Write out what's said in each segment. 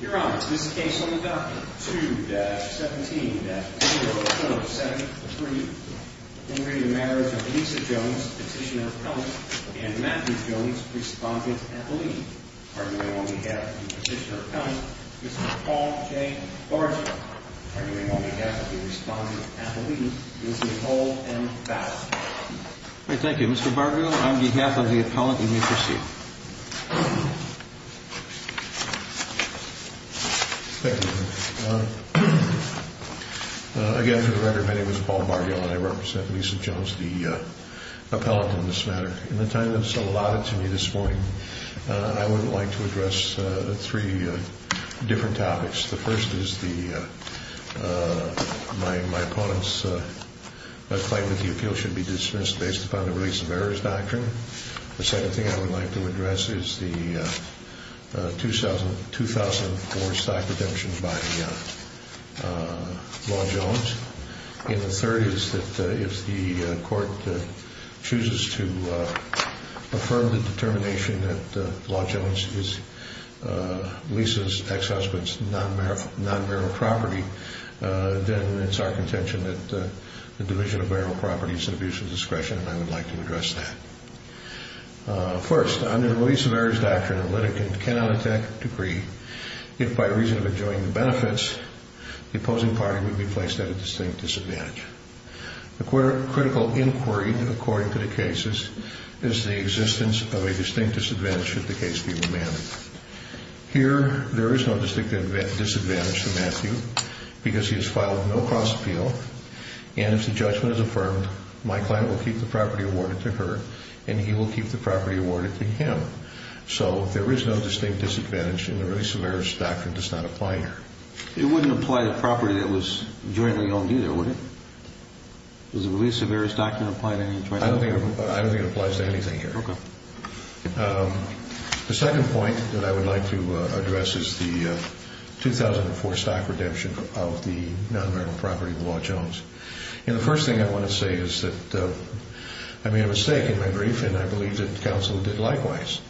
Your Honor, this case on the document 2-17-0-7-3. In re Marriage of Lisa Jones, Petitioner, Appellant, and Matthew Jones, Respondent, Appellee. Arguing on behalf of the Petitioner, Appellant, Mr. Paul J. Barger. Arguing on behalf of the Respondent, Appellee, Ms. Nicole M. Bauer. Thank you Mr. Barger. On behalf of the Appellant, you may proceed. Thank you, Your Honor. Again, for the record, my name is Paul Barger and I represent Lisa Jones, the Appellant on this matter. In the time that is allotted to me this morning, I would like to address three different topics. The first is my opponent's claim that the appeal should be dismissed based upon the release of errors doctrine. The second thing I would like to address is the 2004 stock redemption by Law Jones. And the third is that if the court chooses to affirm the determination that Law Jones is Lisa's ex-husband's non-barrel property, then it's our contention that the division of barrel property is an abuse of discretion and I would like to address that. First, under the release of errors doctrine, a litigant cannot attack a decree if by reason of enjoying the benefits, the opposing party would be placed at a distinct disadvantage. A critical inquiry according to the cases is the existence of a distinct disadvantage should the case be remanded. Here, there is no distinct disadvantage for Matthew because he has filed no cross appeal and if the judgment is affirmed, my client will keep the property awarded to her and he will keep the property awarded to him. So there is no distinct disadvantage in the release of errors doctrine does not apply here. It wouldn't apply to property that was jointly owned either, would it? Does the release of errors doctrine apply to any jointly owned property? I don't think it applies to anything here. The second point that I would like to address is the 2004 stock redemption of the non-barrel property of Law Jones. The first thing I want to say is that I made a mistake in my brief and I believe that counsel did likewise.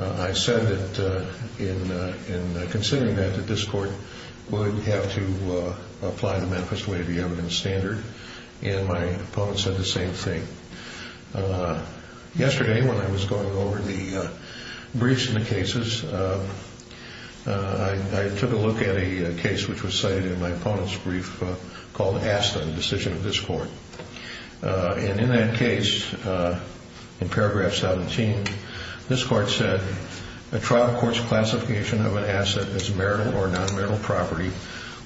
I said that in considering that, that this court would have to apply the Memphis way of the evidence standard and my opponent said the same thing. Yesterday when I was going over the briefs in the cases, I took a look at a case which was cited in my opponent's brief called ASTA, the decision of this court, and in that case, in paragraph 17, this court said, a trial court's classification of an asset as marital or non-marital property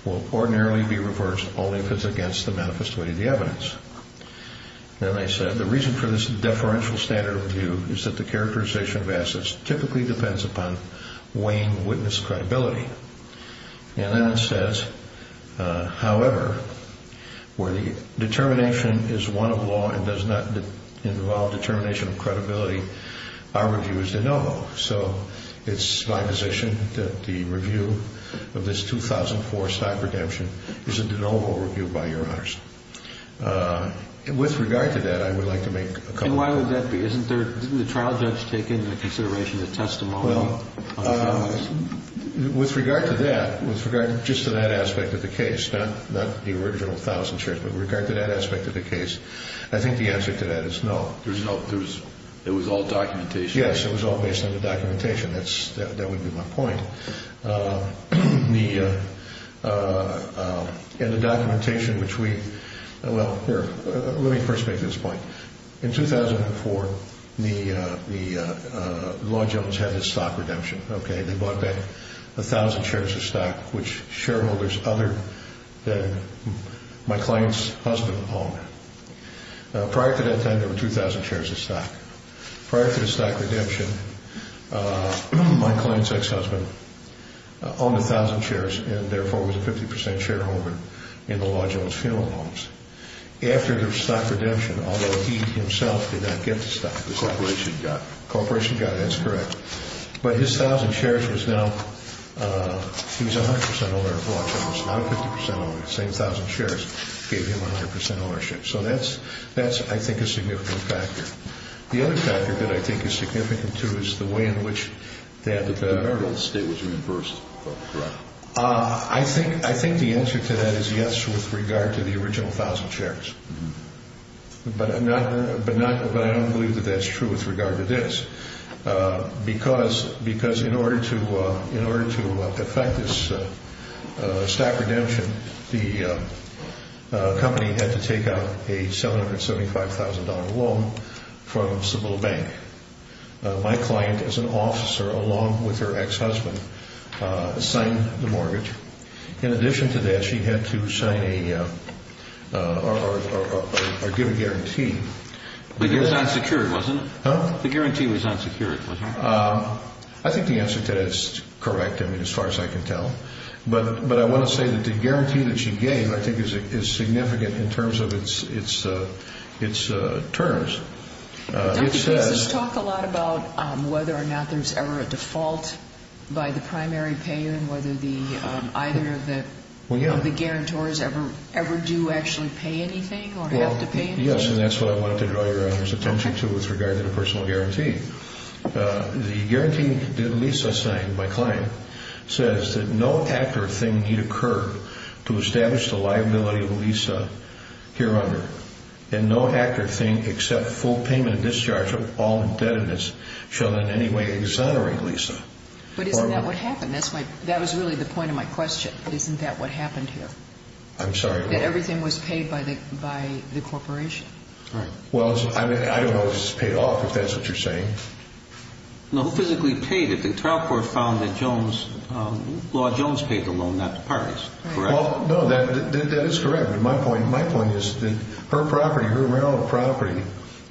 will ordinarily be reversed only if it's against the Memphis way of the evidence. And they said the reason for this deferential standard of review is that the characterization of assets typically depends upon weighing witness credibility. And then it says, however, where the determination is one of law and does not involve determination of credibility, our review is de novo. So it's my position that the review of this 2004 stock redemption is a de novo review by your honors. With regard to that, I would like to make a comment. And why would that be? Didn't the trial judge take into consideration the testimony of the trial judge? With regard to that, with regard just to that aspect of the case, not the original thousand shares, but with regard to that aspect of the case, I think the answer to that is no. It was all documentation. Yes, it was all based on the documentation. That would be my point. And the documentation which we – well, here, let me first make this point. In 2004, the law judge had this stock redemption, okay? They bought back a thousand shares of stock, which shareholders other than my client's husband owned. Prior to that time, there were 2,000 shares of stock. Prior to the stock redemption, my client's ex-husband owned a thousand shares and therefore was a 50% shareholder in the law judge's funeral homes. After the stock redemption, although he himself did not get the stock, the corporation got it. The corporation got it, that's correct. But his thousand shares was now – he was a 100% owner of the law judge's, not a 50% owner. The same thousand shares gave him 100% ownership. So that's, I think, a significant factor. The other factor that I think is significant, too, is the way in which that – The burden of the state was reimbursed, correct? I think the answer to that is yes with regard to the original thousand shares. But I don't believe that that's true with regard to this. Because in order to effect this stock redemption, the company had to take out a $775,000 loan from Cibola Bank. My client, as an officer along with her ex-husband, signed the mortgage. In addition to that, she had to sign a – or give a guarantee. But it was unsecured, wasn't it? Huh? The guarantee was unsecured, wasn't it? I think the answer to that is correct, I mean, as far as I can tell. But I want to say that the guarantee that she gave I think is significant in terms of its terms. It says – Does this talk a lot about whether or not there's ever a default by the primary payer and whether either of the guarantors ever do actually pay anything or have to pay anything? Yes, and that's what I wanted to draw Your Honor's attention to with regard to the personal guarantee. The guarantee that Lisa signed, my client, says that no accurate thing need occur to establish the liability of Lisa hereon. And no accurate thing except full payment and discharge of all indebtedness shall in any way exonerate Lisa. But isn't that what happened? That was really the point of my question. Isn't that what happened here? I'm sorry, what? That everything was paid by the corporation. Right. Well, I don't know if this was paid off, if that's what you're saying. No, who physically paid it? The trial court found that Law Jones paid the loan, not the parties, correct? Well, no, that is correct. But my point is that her property, her rental property,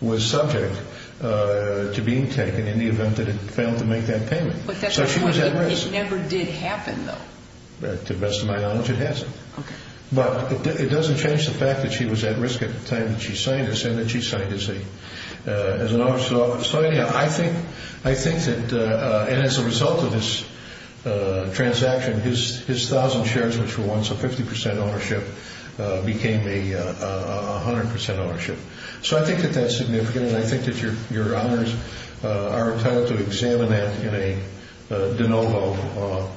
was subject to being taken in the event that it failed to make that payment. But that's the point. It never did happen, though. To the best of my knowledge, it hasn't. Okay. But it doesn't change the fact that she was at risk at the time that she signed this and that she signed as an owner. So, anyhow, I think that as a result of this transaction, his 1,000 shares, which were once a 50% ownership, became a 100% ownership. So I think that that's significant, and I think that your honors are entitled to examine that in a de novo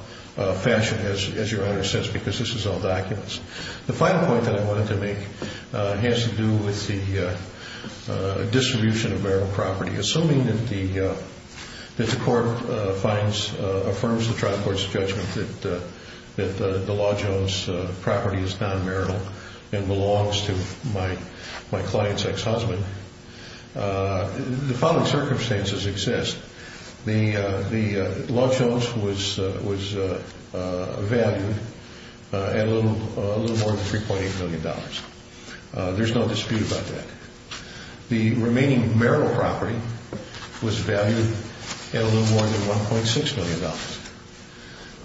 fashion, as your honor says, because this is all documents. The final point that I wanted to make has to do with the distribution of marital property. Assuming that the court finds, affirms the trial court's judgment that the Law Jones property is non-marital and belongs to my client's ex-husband, the following circumstances exist. The Law Jones was valued at a little more than $3.8 million. There's no dispute about that. The remaining marital property was valued at a little more than $1.6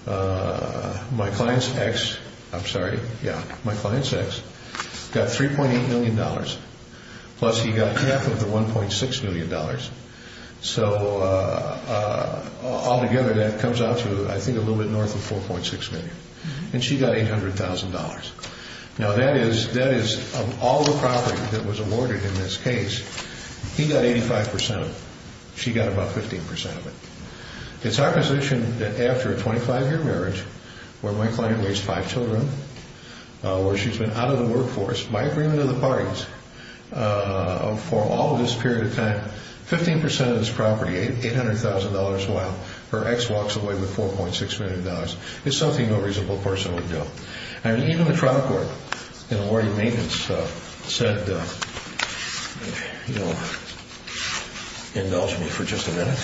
million. My client's ex, I'm sorry, yeah, my client's ex got $3.8 million, plus he got half of the $1.6 million. So altogether that comes out to, I think, a little bit north of $4.6 million, and she got $800,000. Now that is, of all the property that was awarded in this case, he got 85% of it, she got about 15% of it. It's our position that after a 25-year marriage, where my client raised five children, where she's been out of the workforce by agreement of the parties for all of this period of time, 15% of this property, $800,000 a while, her ex walks away with $4.6 million. It's something no reasonable person would do. And even the trial court in awarding maintenance said, indulge me for just a minute,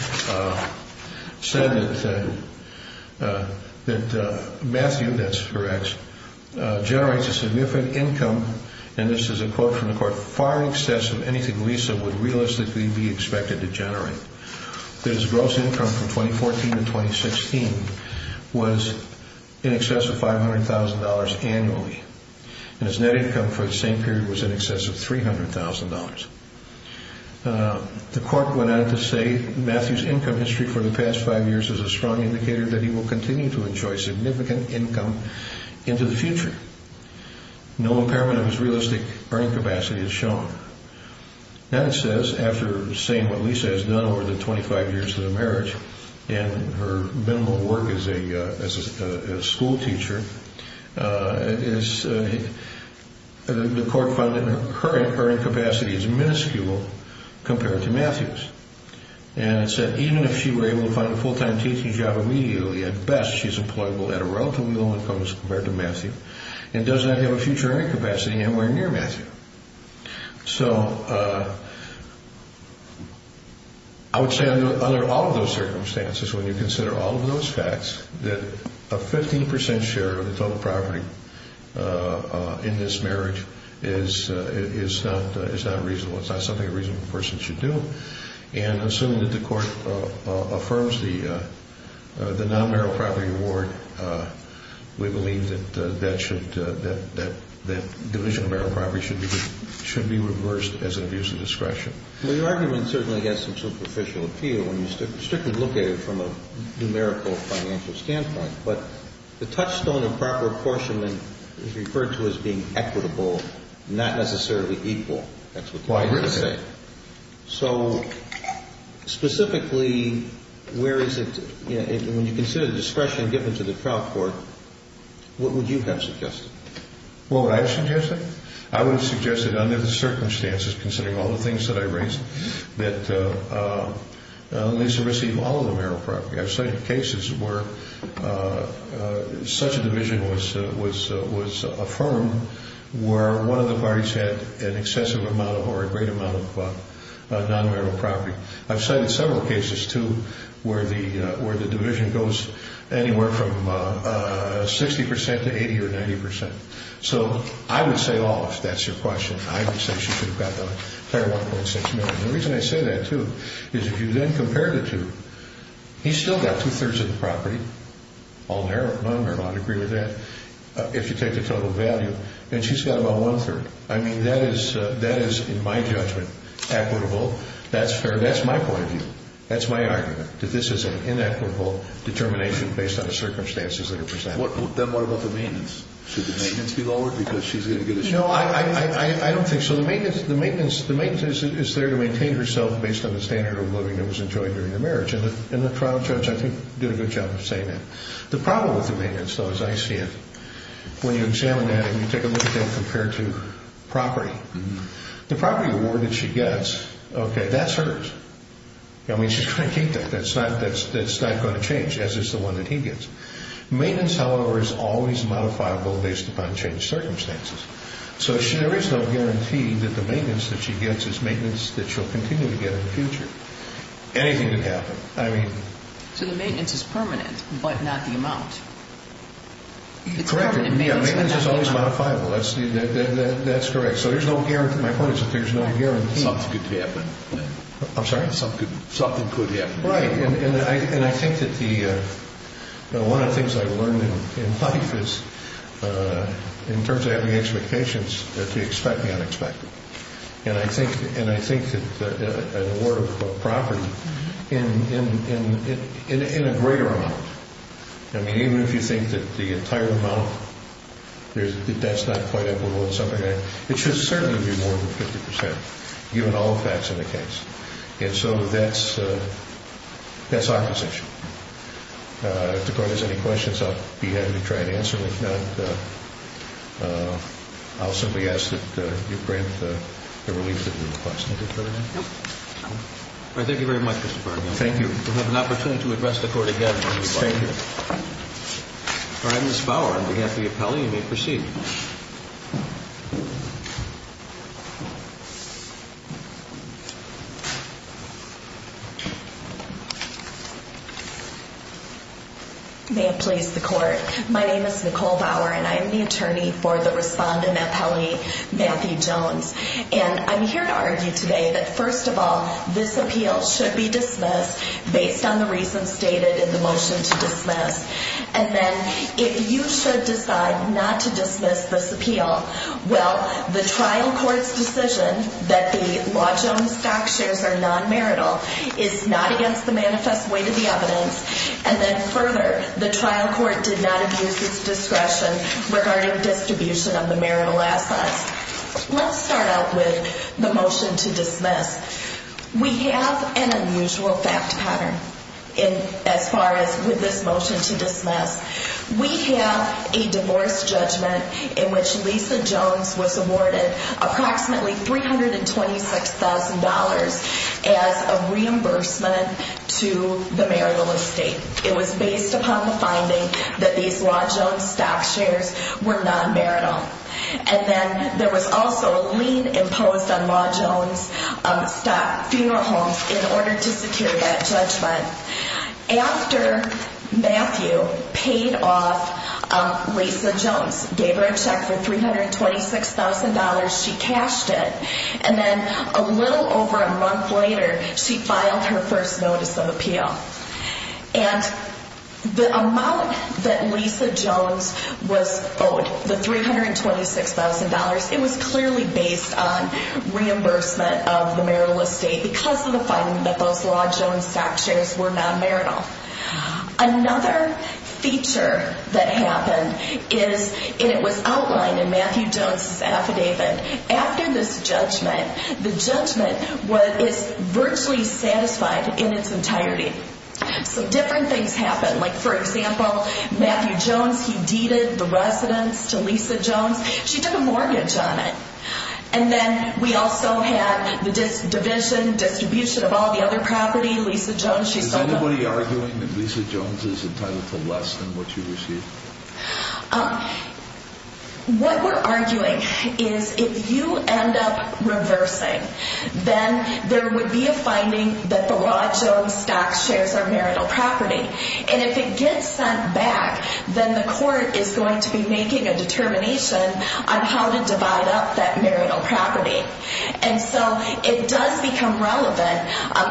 said that Matthew, that's her ex, generates a significant income, and this is a quote from the court, far in excess of anything Lisa would realistically be expected to generate, that his gross income from 2014 to 2016 was in excess of $500,000 annually, and his net income for the same period was in excess of $300,000. The court went on to say, Matthew's income history for the past five years is a strong indicator that he will continue to enjoy significant income into the future. No impairment of his realistic earning capacity is shown. Then it says, after saying what Lisa has done over the 25 years of the marriage, and her minimal work as a school teacher, the court found that her earning capacity is minuscule compared to Matthew's. And it said, even if she were able to find a full-time teaching job immediately, at best she's employable at a relatively low income as compared to Matthew, and does not have a future earning capacity anywhere near Matthew. So I would say under all of those circumstances, when you consider all of those facts, that a 15% share of the total property in this marriage is not reasonable. It's not something a reasonable person should do. And assuming that the court affirms the non-marital property award, we believe that division of marital property should be reversed as an abuse of discretion. Well, your argument certainly has some superficial appeal when you strictly look at it from a numerical financial standpoint. But the touchstone of proper apportionment is referred to as being equitable, not necessarily equal. So specifically, when you consider the discretion given to the trial court, what would you have suggested? What would I have suggested? I would have suggested under the circumstances, considering all the things that I raised, that Lisa receive all of the marital property. I've cited cases where such a division was affirmed where one of the parties had an excessive amount or a great amount of non-marital property. I've cited several cases, too, where the division goes anywhere from 60% to 80% or 90%. So I would say, oh, if that's your question, I would say she should have got the entire $1.6 million. The reason I say that, too, is if you then compare the two, he's still got two-thirds of the property, all non-marital. I'd agree with that, if you take the total value. And she's got about one-third. I mean, that is, in my judgment, equitable. That's fair. That's my point of view. That's my argument, that this is an inequitable determination based on the circumstances that are presented. Then what about the maintenance? Should the maintenance be lowered because she's going to get a share? No, I don't think so. The maintenance is there to maintain herself based on the standard of living that was enjoyed during her marriage. And the trial judge, I think, did a good job of saying that. The problem with the maintenance, though, as I see it, when you examine that and you take a look at that compared to property, the property award that she gets, okay, that's hers. I mean, she's going to keep that. That's not going to change, as is the one that he gets. Maintenance, however, is always modifiable based upon changed circumstances. So there is no guarantee that the maintenance that she gets is maintenance that she'll continue to get in the future. So the maintenance is permanent but not the amount. Correct. Maintenance is always modifiable. That's correct. So there's no guarantee. My point is that there's no guarantee. Something could happen. I'm sorry? Something could happen. Right. And I think that one of the things I've learned in life is, in terms of having expectations, to expect the unexpected. And I think that an award of property in a greater amount. I mean, even if you think that the entire amount, that's not quite equitable in some regard, it should certainly be more than 50 percent, given all the facts of the case. And so that's our position. If the Court has any questions, I'll be happy to try and answer them. If not, I'll simply ask that you grant the relief that you request. Anything further? No. All right. Thank you very much, Mr. Barnhill. Thank you. We'll have an opportunity to address the Court again. Thank you. All right, Ms. Bauer, on behalf of the appellee, you may proceed. May it please the Court. My name is Nicole Bauer, and I am the attorney for the respondent appellee, Matthew Jones. And I'm here to argue today that, first of all, this appeal should be dismissed, based on the reasons stated in the motion to dismiss. And then if you should decide not to dismiss this appeal, well, the trial court's decision that the Law Jones stock shares are non-marital is not against the manifest weight of the evidence. And then further, the trial court did not abuse its discretion regarding distribution of the marital assets. Let's start out with the motion to dismiss. We have an unusual fact pattern as far as with this motion to dismiss. We have a divorce judgment in which Lisa Jones was awarded approximately $326,000 as a reimbursement to the marital estate. It was based upon the finding that these Law Jones stock shares were non-marital. And then there was also a lien imposed on Law Jones stock funeral homes in order to secure that judgment. After Matthew paid off Lisa Jones, gave her a check for $326,000, she cashed it. And then a little over a month later, she filed her first notice of appeal. And the amount that Lisa Jones was owed, the $326,000, it was clearly based on reimbursement of the marital estate because of the finding that those Law Jones stock shares were non-marital. Another feature that happened is, and it was outlined in Matthew Jones' affidavit, after this judgment, the judgment is virtually satisfied in its entirety. So different things happened. Like, for example, Matthew Jones, he deeded the residence to Lisa Jones. She took a mortgage on it. And then we also had the division, distribution of all the other property. Lisa Jones, she sold them. Is anybody arguing that Lisa Jones is entitled to less than what she received? What we're arguing is if you end up reversing, then there would be a finding that the Law Jones stock shares are marital property. And if it gets sent back, then the court is going to be making a determination on how to divide up that marital property. And so it does become relevant.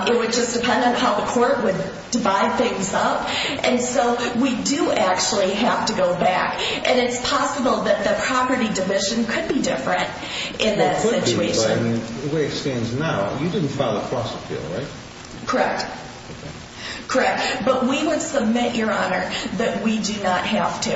It would just depend on how the court would divide things up. And so we do actually have to go back. And it's possible that the property division could be different in that situation. Where it stands now, you didn't file a cross-appeal, right? But we would submit, Your Honor, that we do not have to.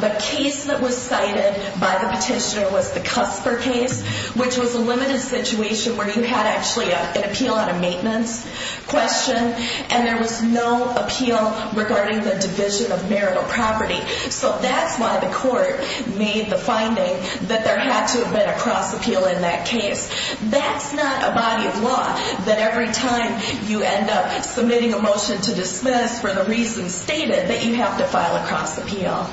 The case that was cited by the petitioner was the Cusper case, which was a limited situation where you had actually an appeal on a maintenance question, and there was no appeal regarding the division of marital property. So that's why the court made the finding that there had to have been a cross-appeal in that case. That's not a body of law that every time you end up submitting a motion to dismiss for the reasons stated, that you have to file a cross-appeal.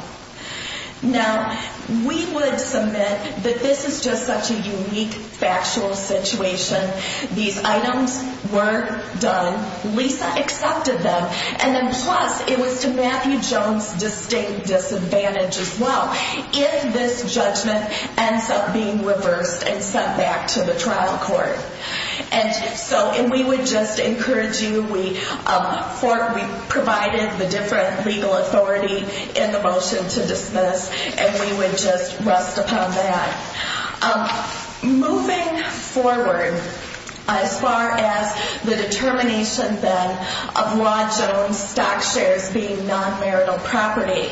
Now, we would submit that this is just such a unique factual situation. These items were done. Lisa accepted them. And then plus, it was to Matthew Jones' distinct disadvantage as well if this judgment ends up being reversed and sent back to the trial court. And so we would just encourage you. We provided the different legal authority in the motion to dismiss, and we would just rest upon that. Moving forward, as far as the determination, then, of Ron Jones' stock shares being non-marital property,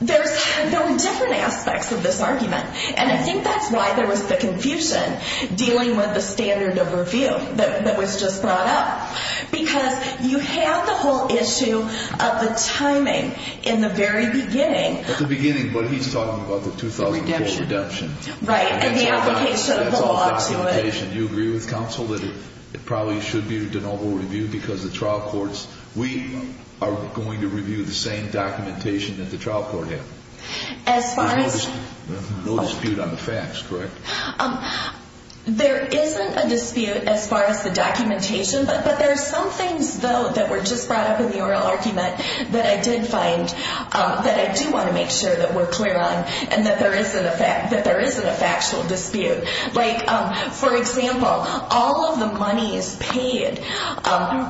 there's different aspects of this argument. And I think that's why there was the confusion dealing with the standard of review that was just brought up, because you have the whole issue of the timing in the very beginning. At the beginning, but he's talking about the 2004 redemption. Right, and the application of the law to it. That's all documentation. Do you agree with counsel that it probably should be a de novo review because the trial courts, we are going to review the same documentation that the trial court had? As far as... No dispute on the facts, correct? There isn't a dispute as far as the documentation, but there are some things, though, that were just brought up in the oral argument that I did find that I do want to make sure that we're clear on, and that there isn't a factual dispute. Like, for example, all of the monies paid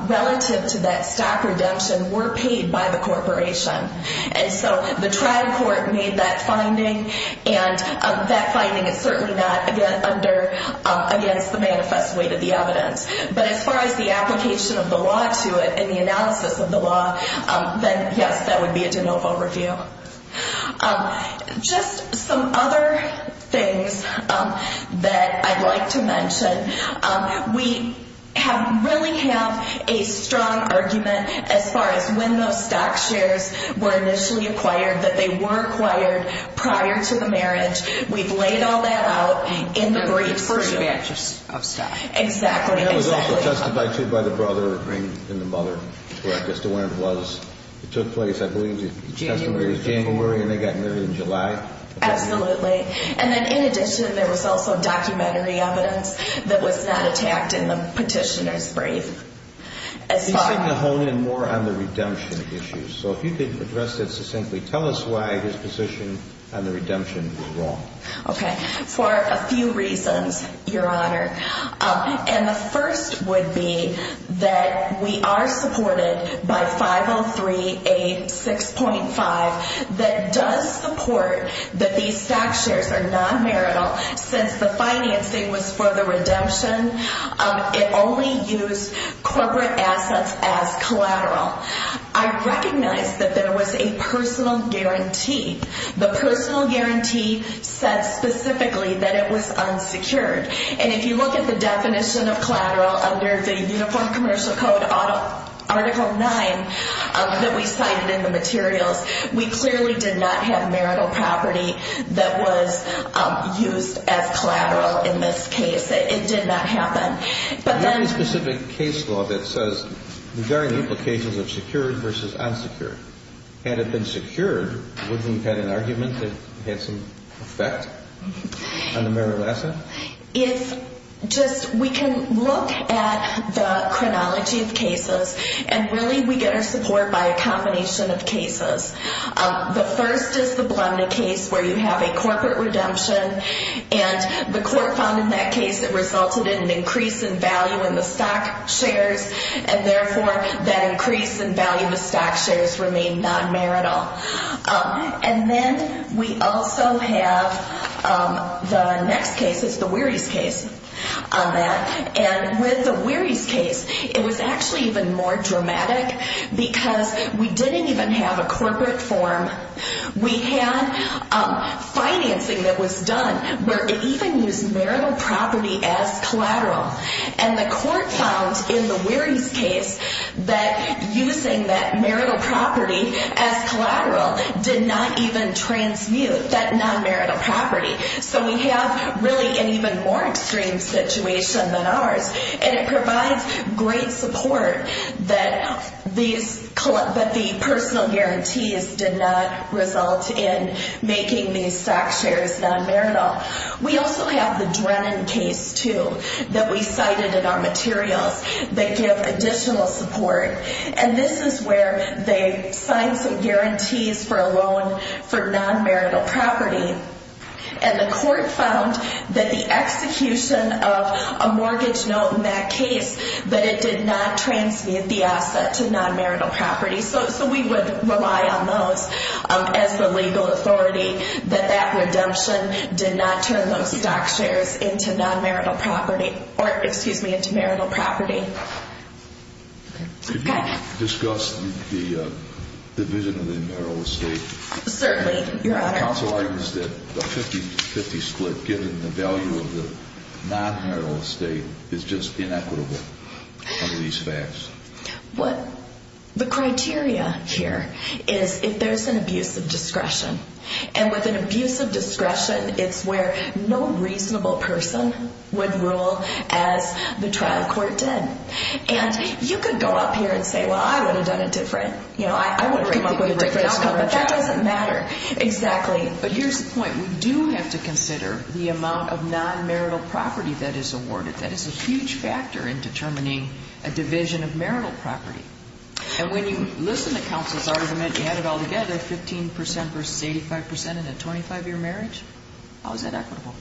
relative to that stock redemption were paid by the corporation. And so the trial court made that finding, and that finding is certainly not against the manifest weight of the evidence. But as far as the application of the law to it and the analysis of the law, then, yes, that would be a de novo review. Just some other things that I'd like to mention. We really have a strong argument as far as when those stock shares were initially acquired, that they were acquired prior to the marriage. We've laid all that out in the briefs. Exactly. And that was also testified to by the brother in the mother, where I'm just aware it was. It took place, I believe, January, and they got married in July. Absolutely. And then, in addition, there was also documentary evidence that was not attacked in the petitioner's brief. He seemed to hone in more on the redemption issues. So if you could address that succinctly. Tell us why his position on the redemption was wrong. Okay. For a few reasons, Your Honor. And the first would be that we are supported by 50386.5 that does support that these stock shares are non-marital since the financing was for the redemption. It only used corporate assets as collateral. I recognize that there was a personal guarantee. The personal guarantee said specifically that it was unsecured. And if you look at the definition of collateral under the Uniform Commercial Code, Article 9 that we cited in the materials, we clearly did not have marital property that was used as collateral in this case. It did not happen. But then the specific case law that says the varying implications of secured versus unsecured. Had it been secured, would we have had an argument that it had some effect on the marital asset? If just we can look at the chronology of cases and really we get our support by a combination of cases. The first is the Blumner case where you have a corporate redemption and the court found in that case it resulted in an increase in value in the stock shares and therefore that increase in value of the stock shares remained non-marital. And then we also have the next case is the Wearies case. And with the Wearies case, it was actually even more dramatic because we didn't even have a corporate form. We had financing that was done where it even used marital property as collateral. And the court found in the Wearies case that using that marital property as collateral did not even transmute that non-marital property. So we have really an even more extreme situation than ours. And it provides great support that the personal guarantees did not result in making these stock shares non-marital. We also have the Drennan case, too, that we cited in our materials that give additional support. And this is where they signed some guarantees for a loan for non-marital property. And the court found that the execution of a mortgage note in that case, that it did not transmute the asset to non-marital property. So we would rely on those as the legal authority, that that redemption did not turn those stock shares into non-marital property or, excuse me, into marital property. Could you discuss the division of the marital estate? Certainly, Your Honor. Counsel argues that the 50-50 split, given the value of the non-marital estate, is just inequitable under these facts. What the criteria here is if there's an abuse of discretion. And with an abuse of discretion, it's where no reasonable person would rule as the trial court did. And you could go up here and say, well, I would have done it different. You know, I would have come up with a different outcome. That doesn't matter. Exactly. But here's the point. We do have to consider the amount of non-marital property that is awarded. That is a huge factor in determining a division of marital property. And when you listen to counsel's argument, you add it all together, 15% versus 85% in a 25-year marriage, how is that equitable?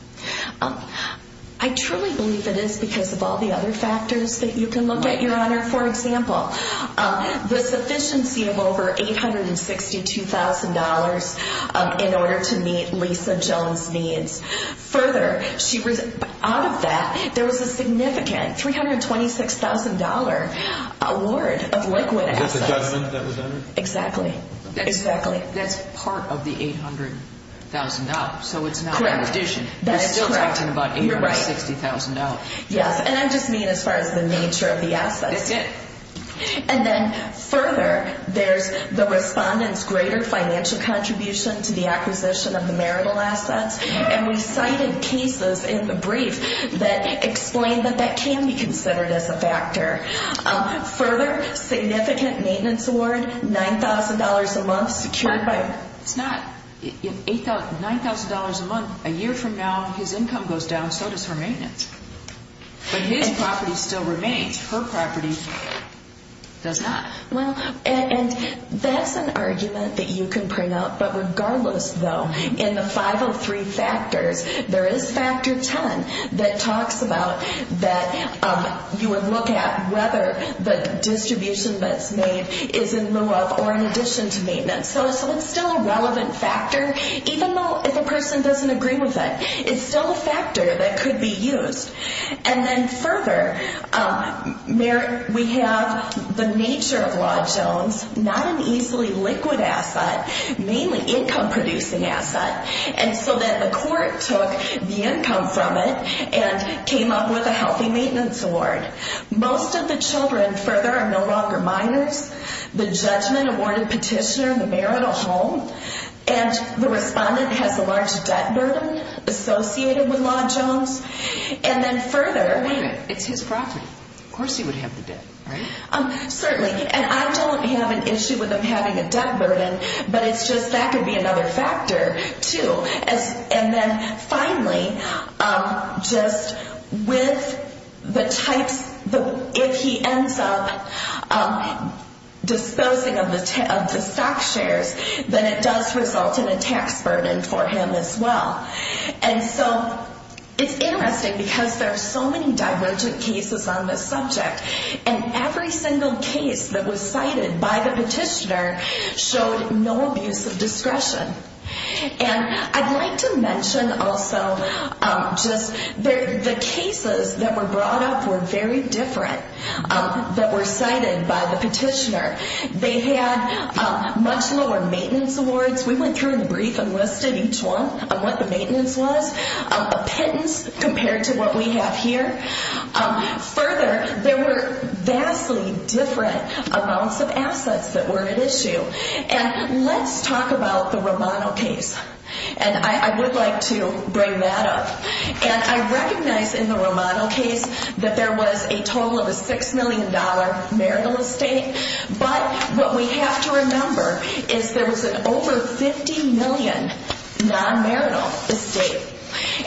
I truly believe it is because of all the other factors that you can look at, Your Honor. For example, the sufficiency of over $862,000 in order to meet Lisa Jones' needs. Further, out of that, there was a significant $326,000 award of liquid assets. Is that the judgment that was entered? Exactly. Exactly. That's part of the $800,000, so it's not an addition. That's correct. We're still talking about $860,000. Yes, and I just mean as far as the nature of the assets. That's it. And then further, there's the respondent's greater financial contribution to the acquisition of the marital assets. And we cited cases in the brief that explained that that can be considered as a factor. Further, significant maintenance award, $9,000 a month secured by her. It's not. $9,000 a month, a year from now, his income goes down, so does her maintenance. But his property still remains. Her property does not. Well, and that's an argument that you can print out. But regardless, though, in the 503 factors, there is factor 10 that talks about that you would look at whether the distribution that's made is in lieu of or in addition to maintenance. So it's still a relevant factor, even though if a person doesn't agree with it, it's still a factor that could be used. And then further, we have the nature of Law Jones, not an easily liquid asset, mainly income-producing asset. And so then the court took the income from it and came up with a healthy maintenance award. Most of the children further are no longer minors. The judgment awarded petitioner in the marital home. And the respondent has a large debt burden associated with Law Jones. And then further. It's his property. Of course he would have the debt, right? Certainly. And I don't have an issue with him having a debt burden, but it's just that could be another factor, too. And then finally, just with the types, if he ends up disposing of the stock shares, then it does result in a tax burden for him as well. And so it's interesting because there are so many divergent cases on this subject. And every single case that was cited by the petitioner showed no abuse of discretion. And I'd like to mention also just the cases that were brought up were very different that were cited by the petitioner. They had much lower maintenance awards. We went through the brief and listed each one on what the maintenance was. A pittance compared to what we have here. Further, there were vastly different amounts of assets that were at issue. And let's talk about the Romano case. And I would like to bring that up. And I recognize in the Romano case that there was a total of a $6 million marital estate. But what we have to remember is there was an over $50 million non-marital estate.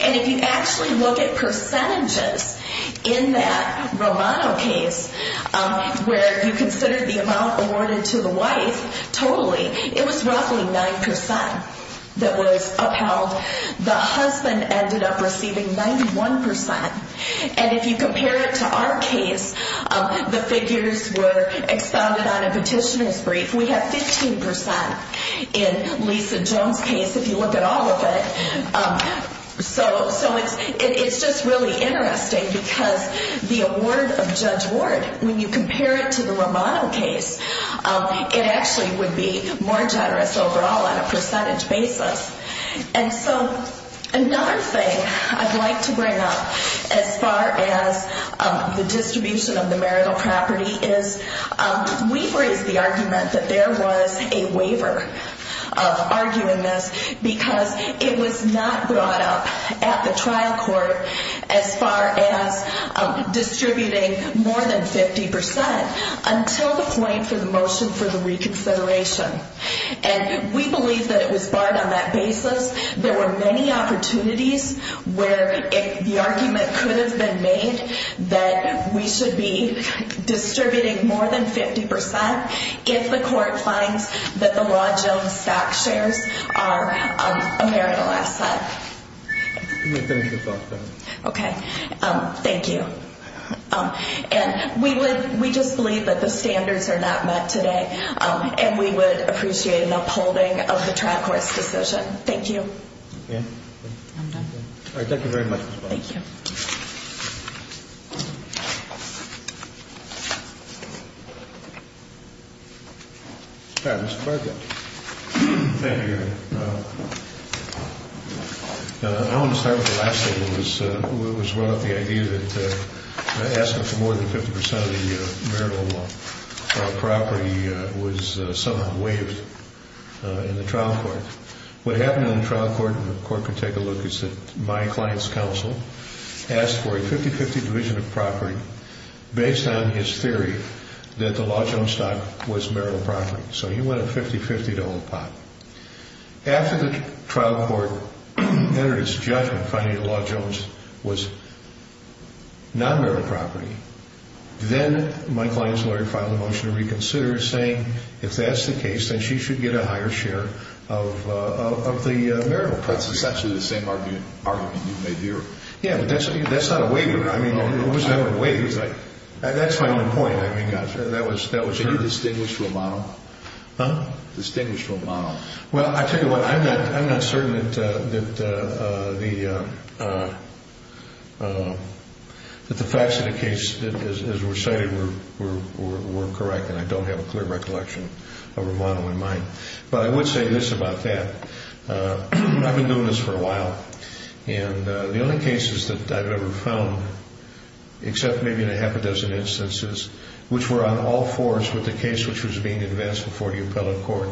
And if you actually look at percentages in that Romano case where you consider the amount awarded to the wife totally, it was roughly 9% that was upheld. The husband ended up receiving 91%. And if you compare it to our case, the figures were expounded on a petitioner's brief. We have 15% in Lisa Jones' case if you look at all of it. So it's just really interesting because the award of Judge Ward, when you compare it to the Romano case, it actually would be more generous overall on a percentage basis. And so another thing I'd like to bring up as far as the distribution of the marital property is we've raised the argument that there was a waiver arguing this because it was not brought up at the trial court as far as distributing more than 50% until the claim for the motion for the reconsideration. And we believe that it was barred on that basis. There were many opportunities where the argument could have been made that we should be distributing more than 50% if the court finds that the Law Jones stock shares are a marital asset. Let me finish this off. Okay. Thank you. And we just believe that the standards are not met today. And we would appreciate an upholding of the trial court's decision. Thank you. Okay. I'm done. All right. Thank you very much. Thank you. All right. Mr. Farquhar. Thank you, Your Honor. I want to start with the last thing. It was brought up, the idea that asking for more than 50% of the marital property was somehow waived in the trial court. What happened in the trial court, and the court can take a look, is that my client's counsel asked for a 50-50 division of property based on his theory that the Law Jones stock was marital property. So he went a 50-50 to hold the pot. After the trial court entered its judgment finding the Law Jones was non-marital property, then my client's lawyer filed a motion to reconsider saying if that's the case, then she should get a higher share of the marital property. That's essentially the same argument you made there. Yeah, but that's not a waiver. I mean, it was never a waiver. That's my only point. I mean, that was true. Huh? Distinguished Romano. Well, I tell you what, I'm not certain that the facts of the case as recited were correct, and I don't have a clear recollection of Romano in mind. But I would say this about that. I've been doing this for a while, and the only cases that I've ever found, except maybe in a half a dozen instances, which were on all fours with the case which was being advanced before the appellate court,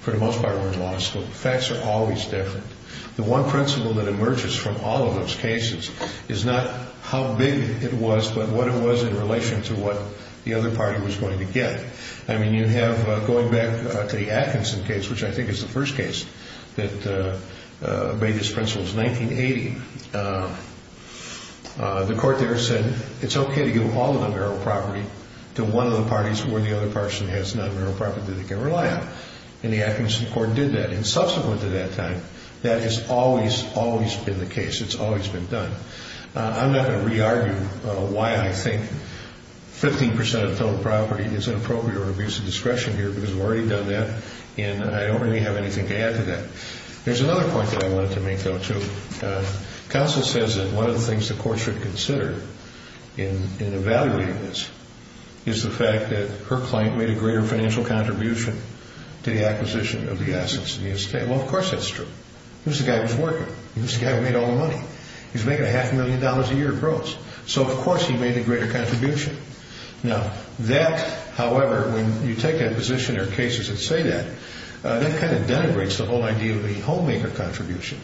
for the most part were in law school. The facts are always different. The one principle that emerges from all of those cases is not how big it was, but what it was in relation to what the other party was going to get. I mean, you have going back to the Atkinson case, which I think is the first case that made this principle. It was 1980. The court there said it's okay to give all of the marital property to one of the parties where the other person has non-marital property that they can rely on, and the Atkinson court did that. And subsequent to that time, that has always, always been the case. It's always been done. I'm not going to re-argue why I think 15% of total property is inappropriate or an abuse of discretion here because we've already done that, and I don't really have anything to add to that. There's another point that I wanted to make, though, too. Counsel says that one of the things the court should consider in evaluating this is the fact that her client made a greater financial contribution to the acquisition of the assets in the estate. Well, of course that's true. He was the guy who was working. He was the guy who made all the money. He was making a half a million dollars a year gross. So, of course, he made a greater contribution. Now, that, however, when you take a position or cases that say that, that kind of denigrates the whole idea of the homemaker contribution.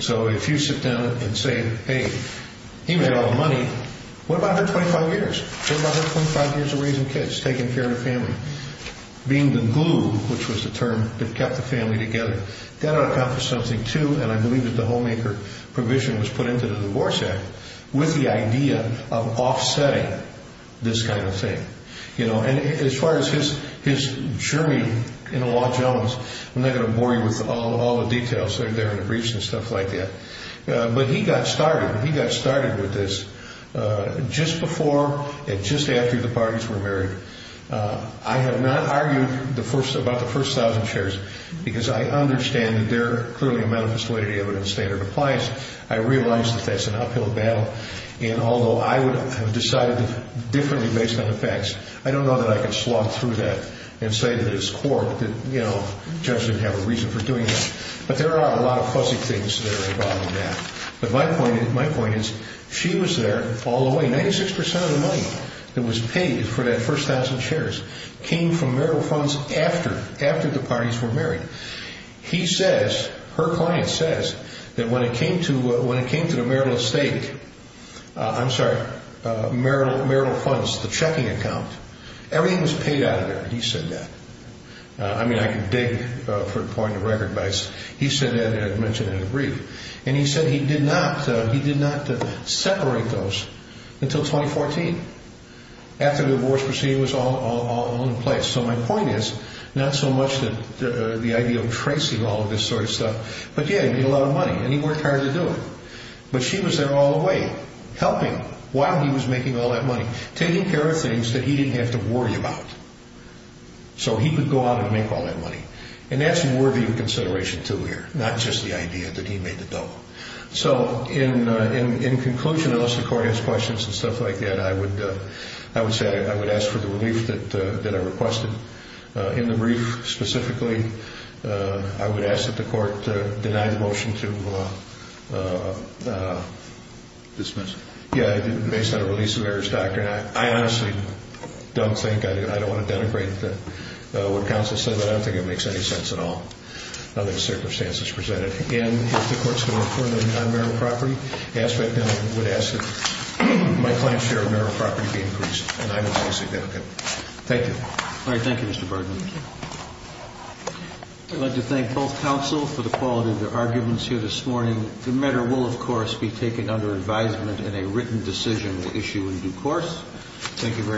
So if you sit down and say, hey, he made all the money. What about her 25 years? What about her 25 years of raising kids, taking care of the family, being the glue, which was the term that kept the family together? That would accomplish something, too, and I believe that the homemaker provision was put into the Divorce Act with the idea of offsetting this kind of thing. And as far as his journey in the Los Angeles, I'm not going to bore you with all the details. They're in the briefs and stuff like that. But he got started. He got started with this just before and just after the parties were married. I have not argued about the first 1,000 shares because I understand that they're clearly a manifest way to the evidence standard appliance. I realize that that's an uphill battle. And although I would have decided differently based on the facts, I don't know that I could slog through that and say to this court that, you know, Judge didn't have a reason for doing that. But there are a lot of fuzzy things that are involved in that. But my point is she was there all the way. Ninety-six percent of the money that was paid for that first 1,000 shares came from marital funds after the parties were married. He says, her client says, that when it came to the marital estate, I'm sorry, marital funds, the checking account, everything was paid out of there. He said that. I mean, I can dig for the point of the record, but he said that and I mentioned it in the brief. And he said he did not separate those until 2014 after the divorce proceeding was all in place. So my point is not so much the idea of tracing all of this sort of stuff, but, yeah, he made a lot of money and he worked hard to do it. But she was there all the way helping while he was making all that money, taking care of things that he didn't have to worry about so he could go out and make all that money. And that's worthy of consideration, too, here, not just the idea that he made the double. So in conclusion, unless the court has questions and stuff like that, I would say I would ask for the relief that I requested. In the brief, specifically, I would ask that the court deny the motion to dismiss based on a release of errors doctrine. I mean, I honestly don't think, I don't want to denigrate what counsel said, but I don't think it makes any sense at all under the circumstances presented. And if the court's going to affirm the non-marital property aspect, then I would ask that my client's share of marital property be increased. And I would say significant. Thank you. All right. Thank you, Mr. Bergman. Thank you. I'd like to thank both counsel for the quality of their arguments here this morning. The matter will, of course, be taken under advisement and a written decision will issue in due course. Thank you very much.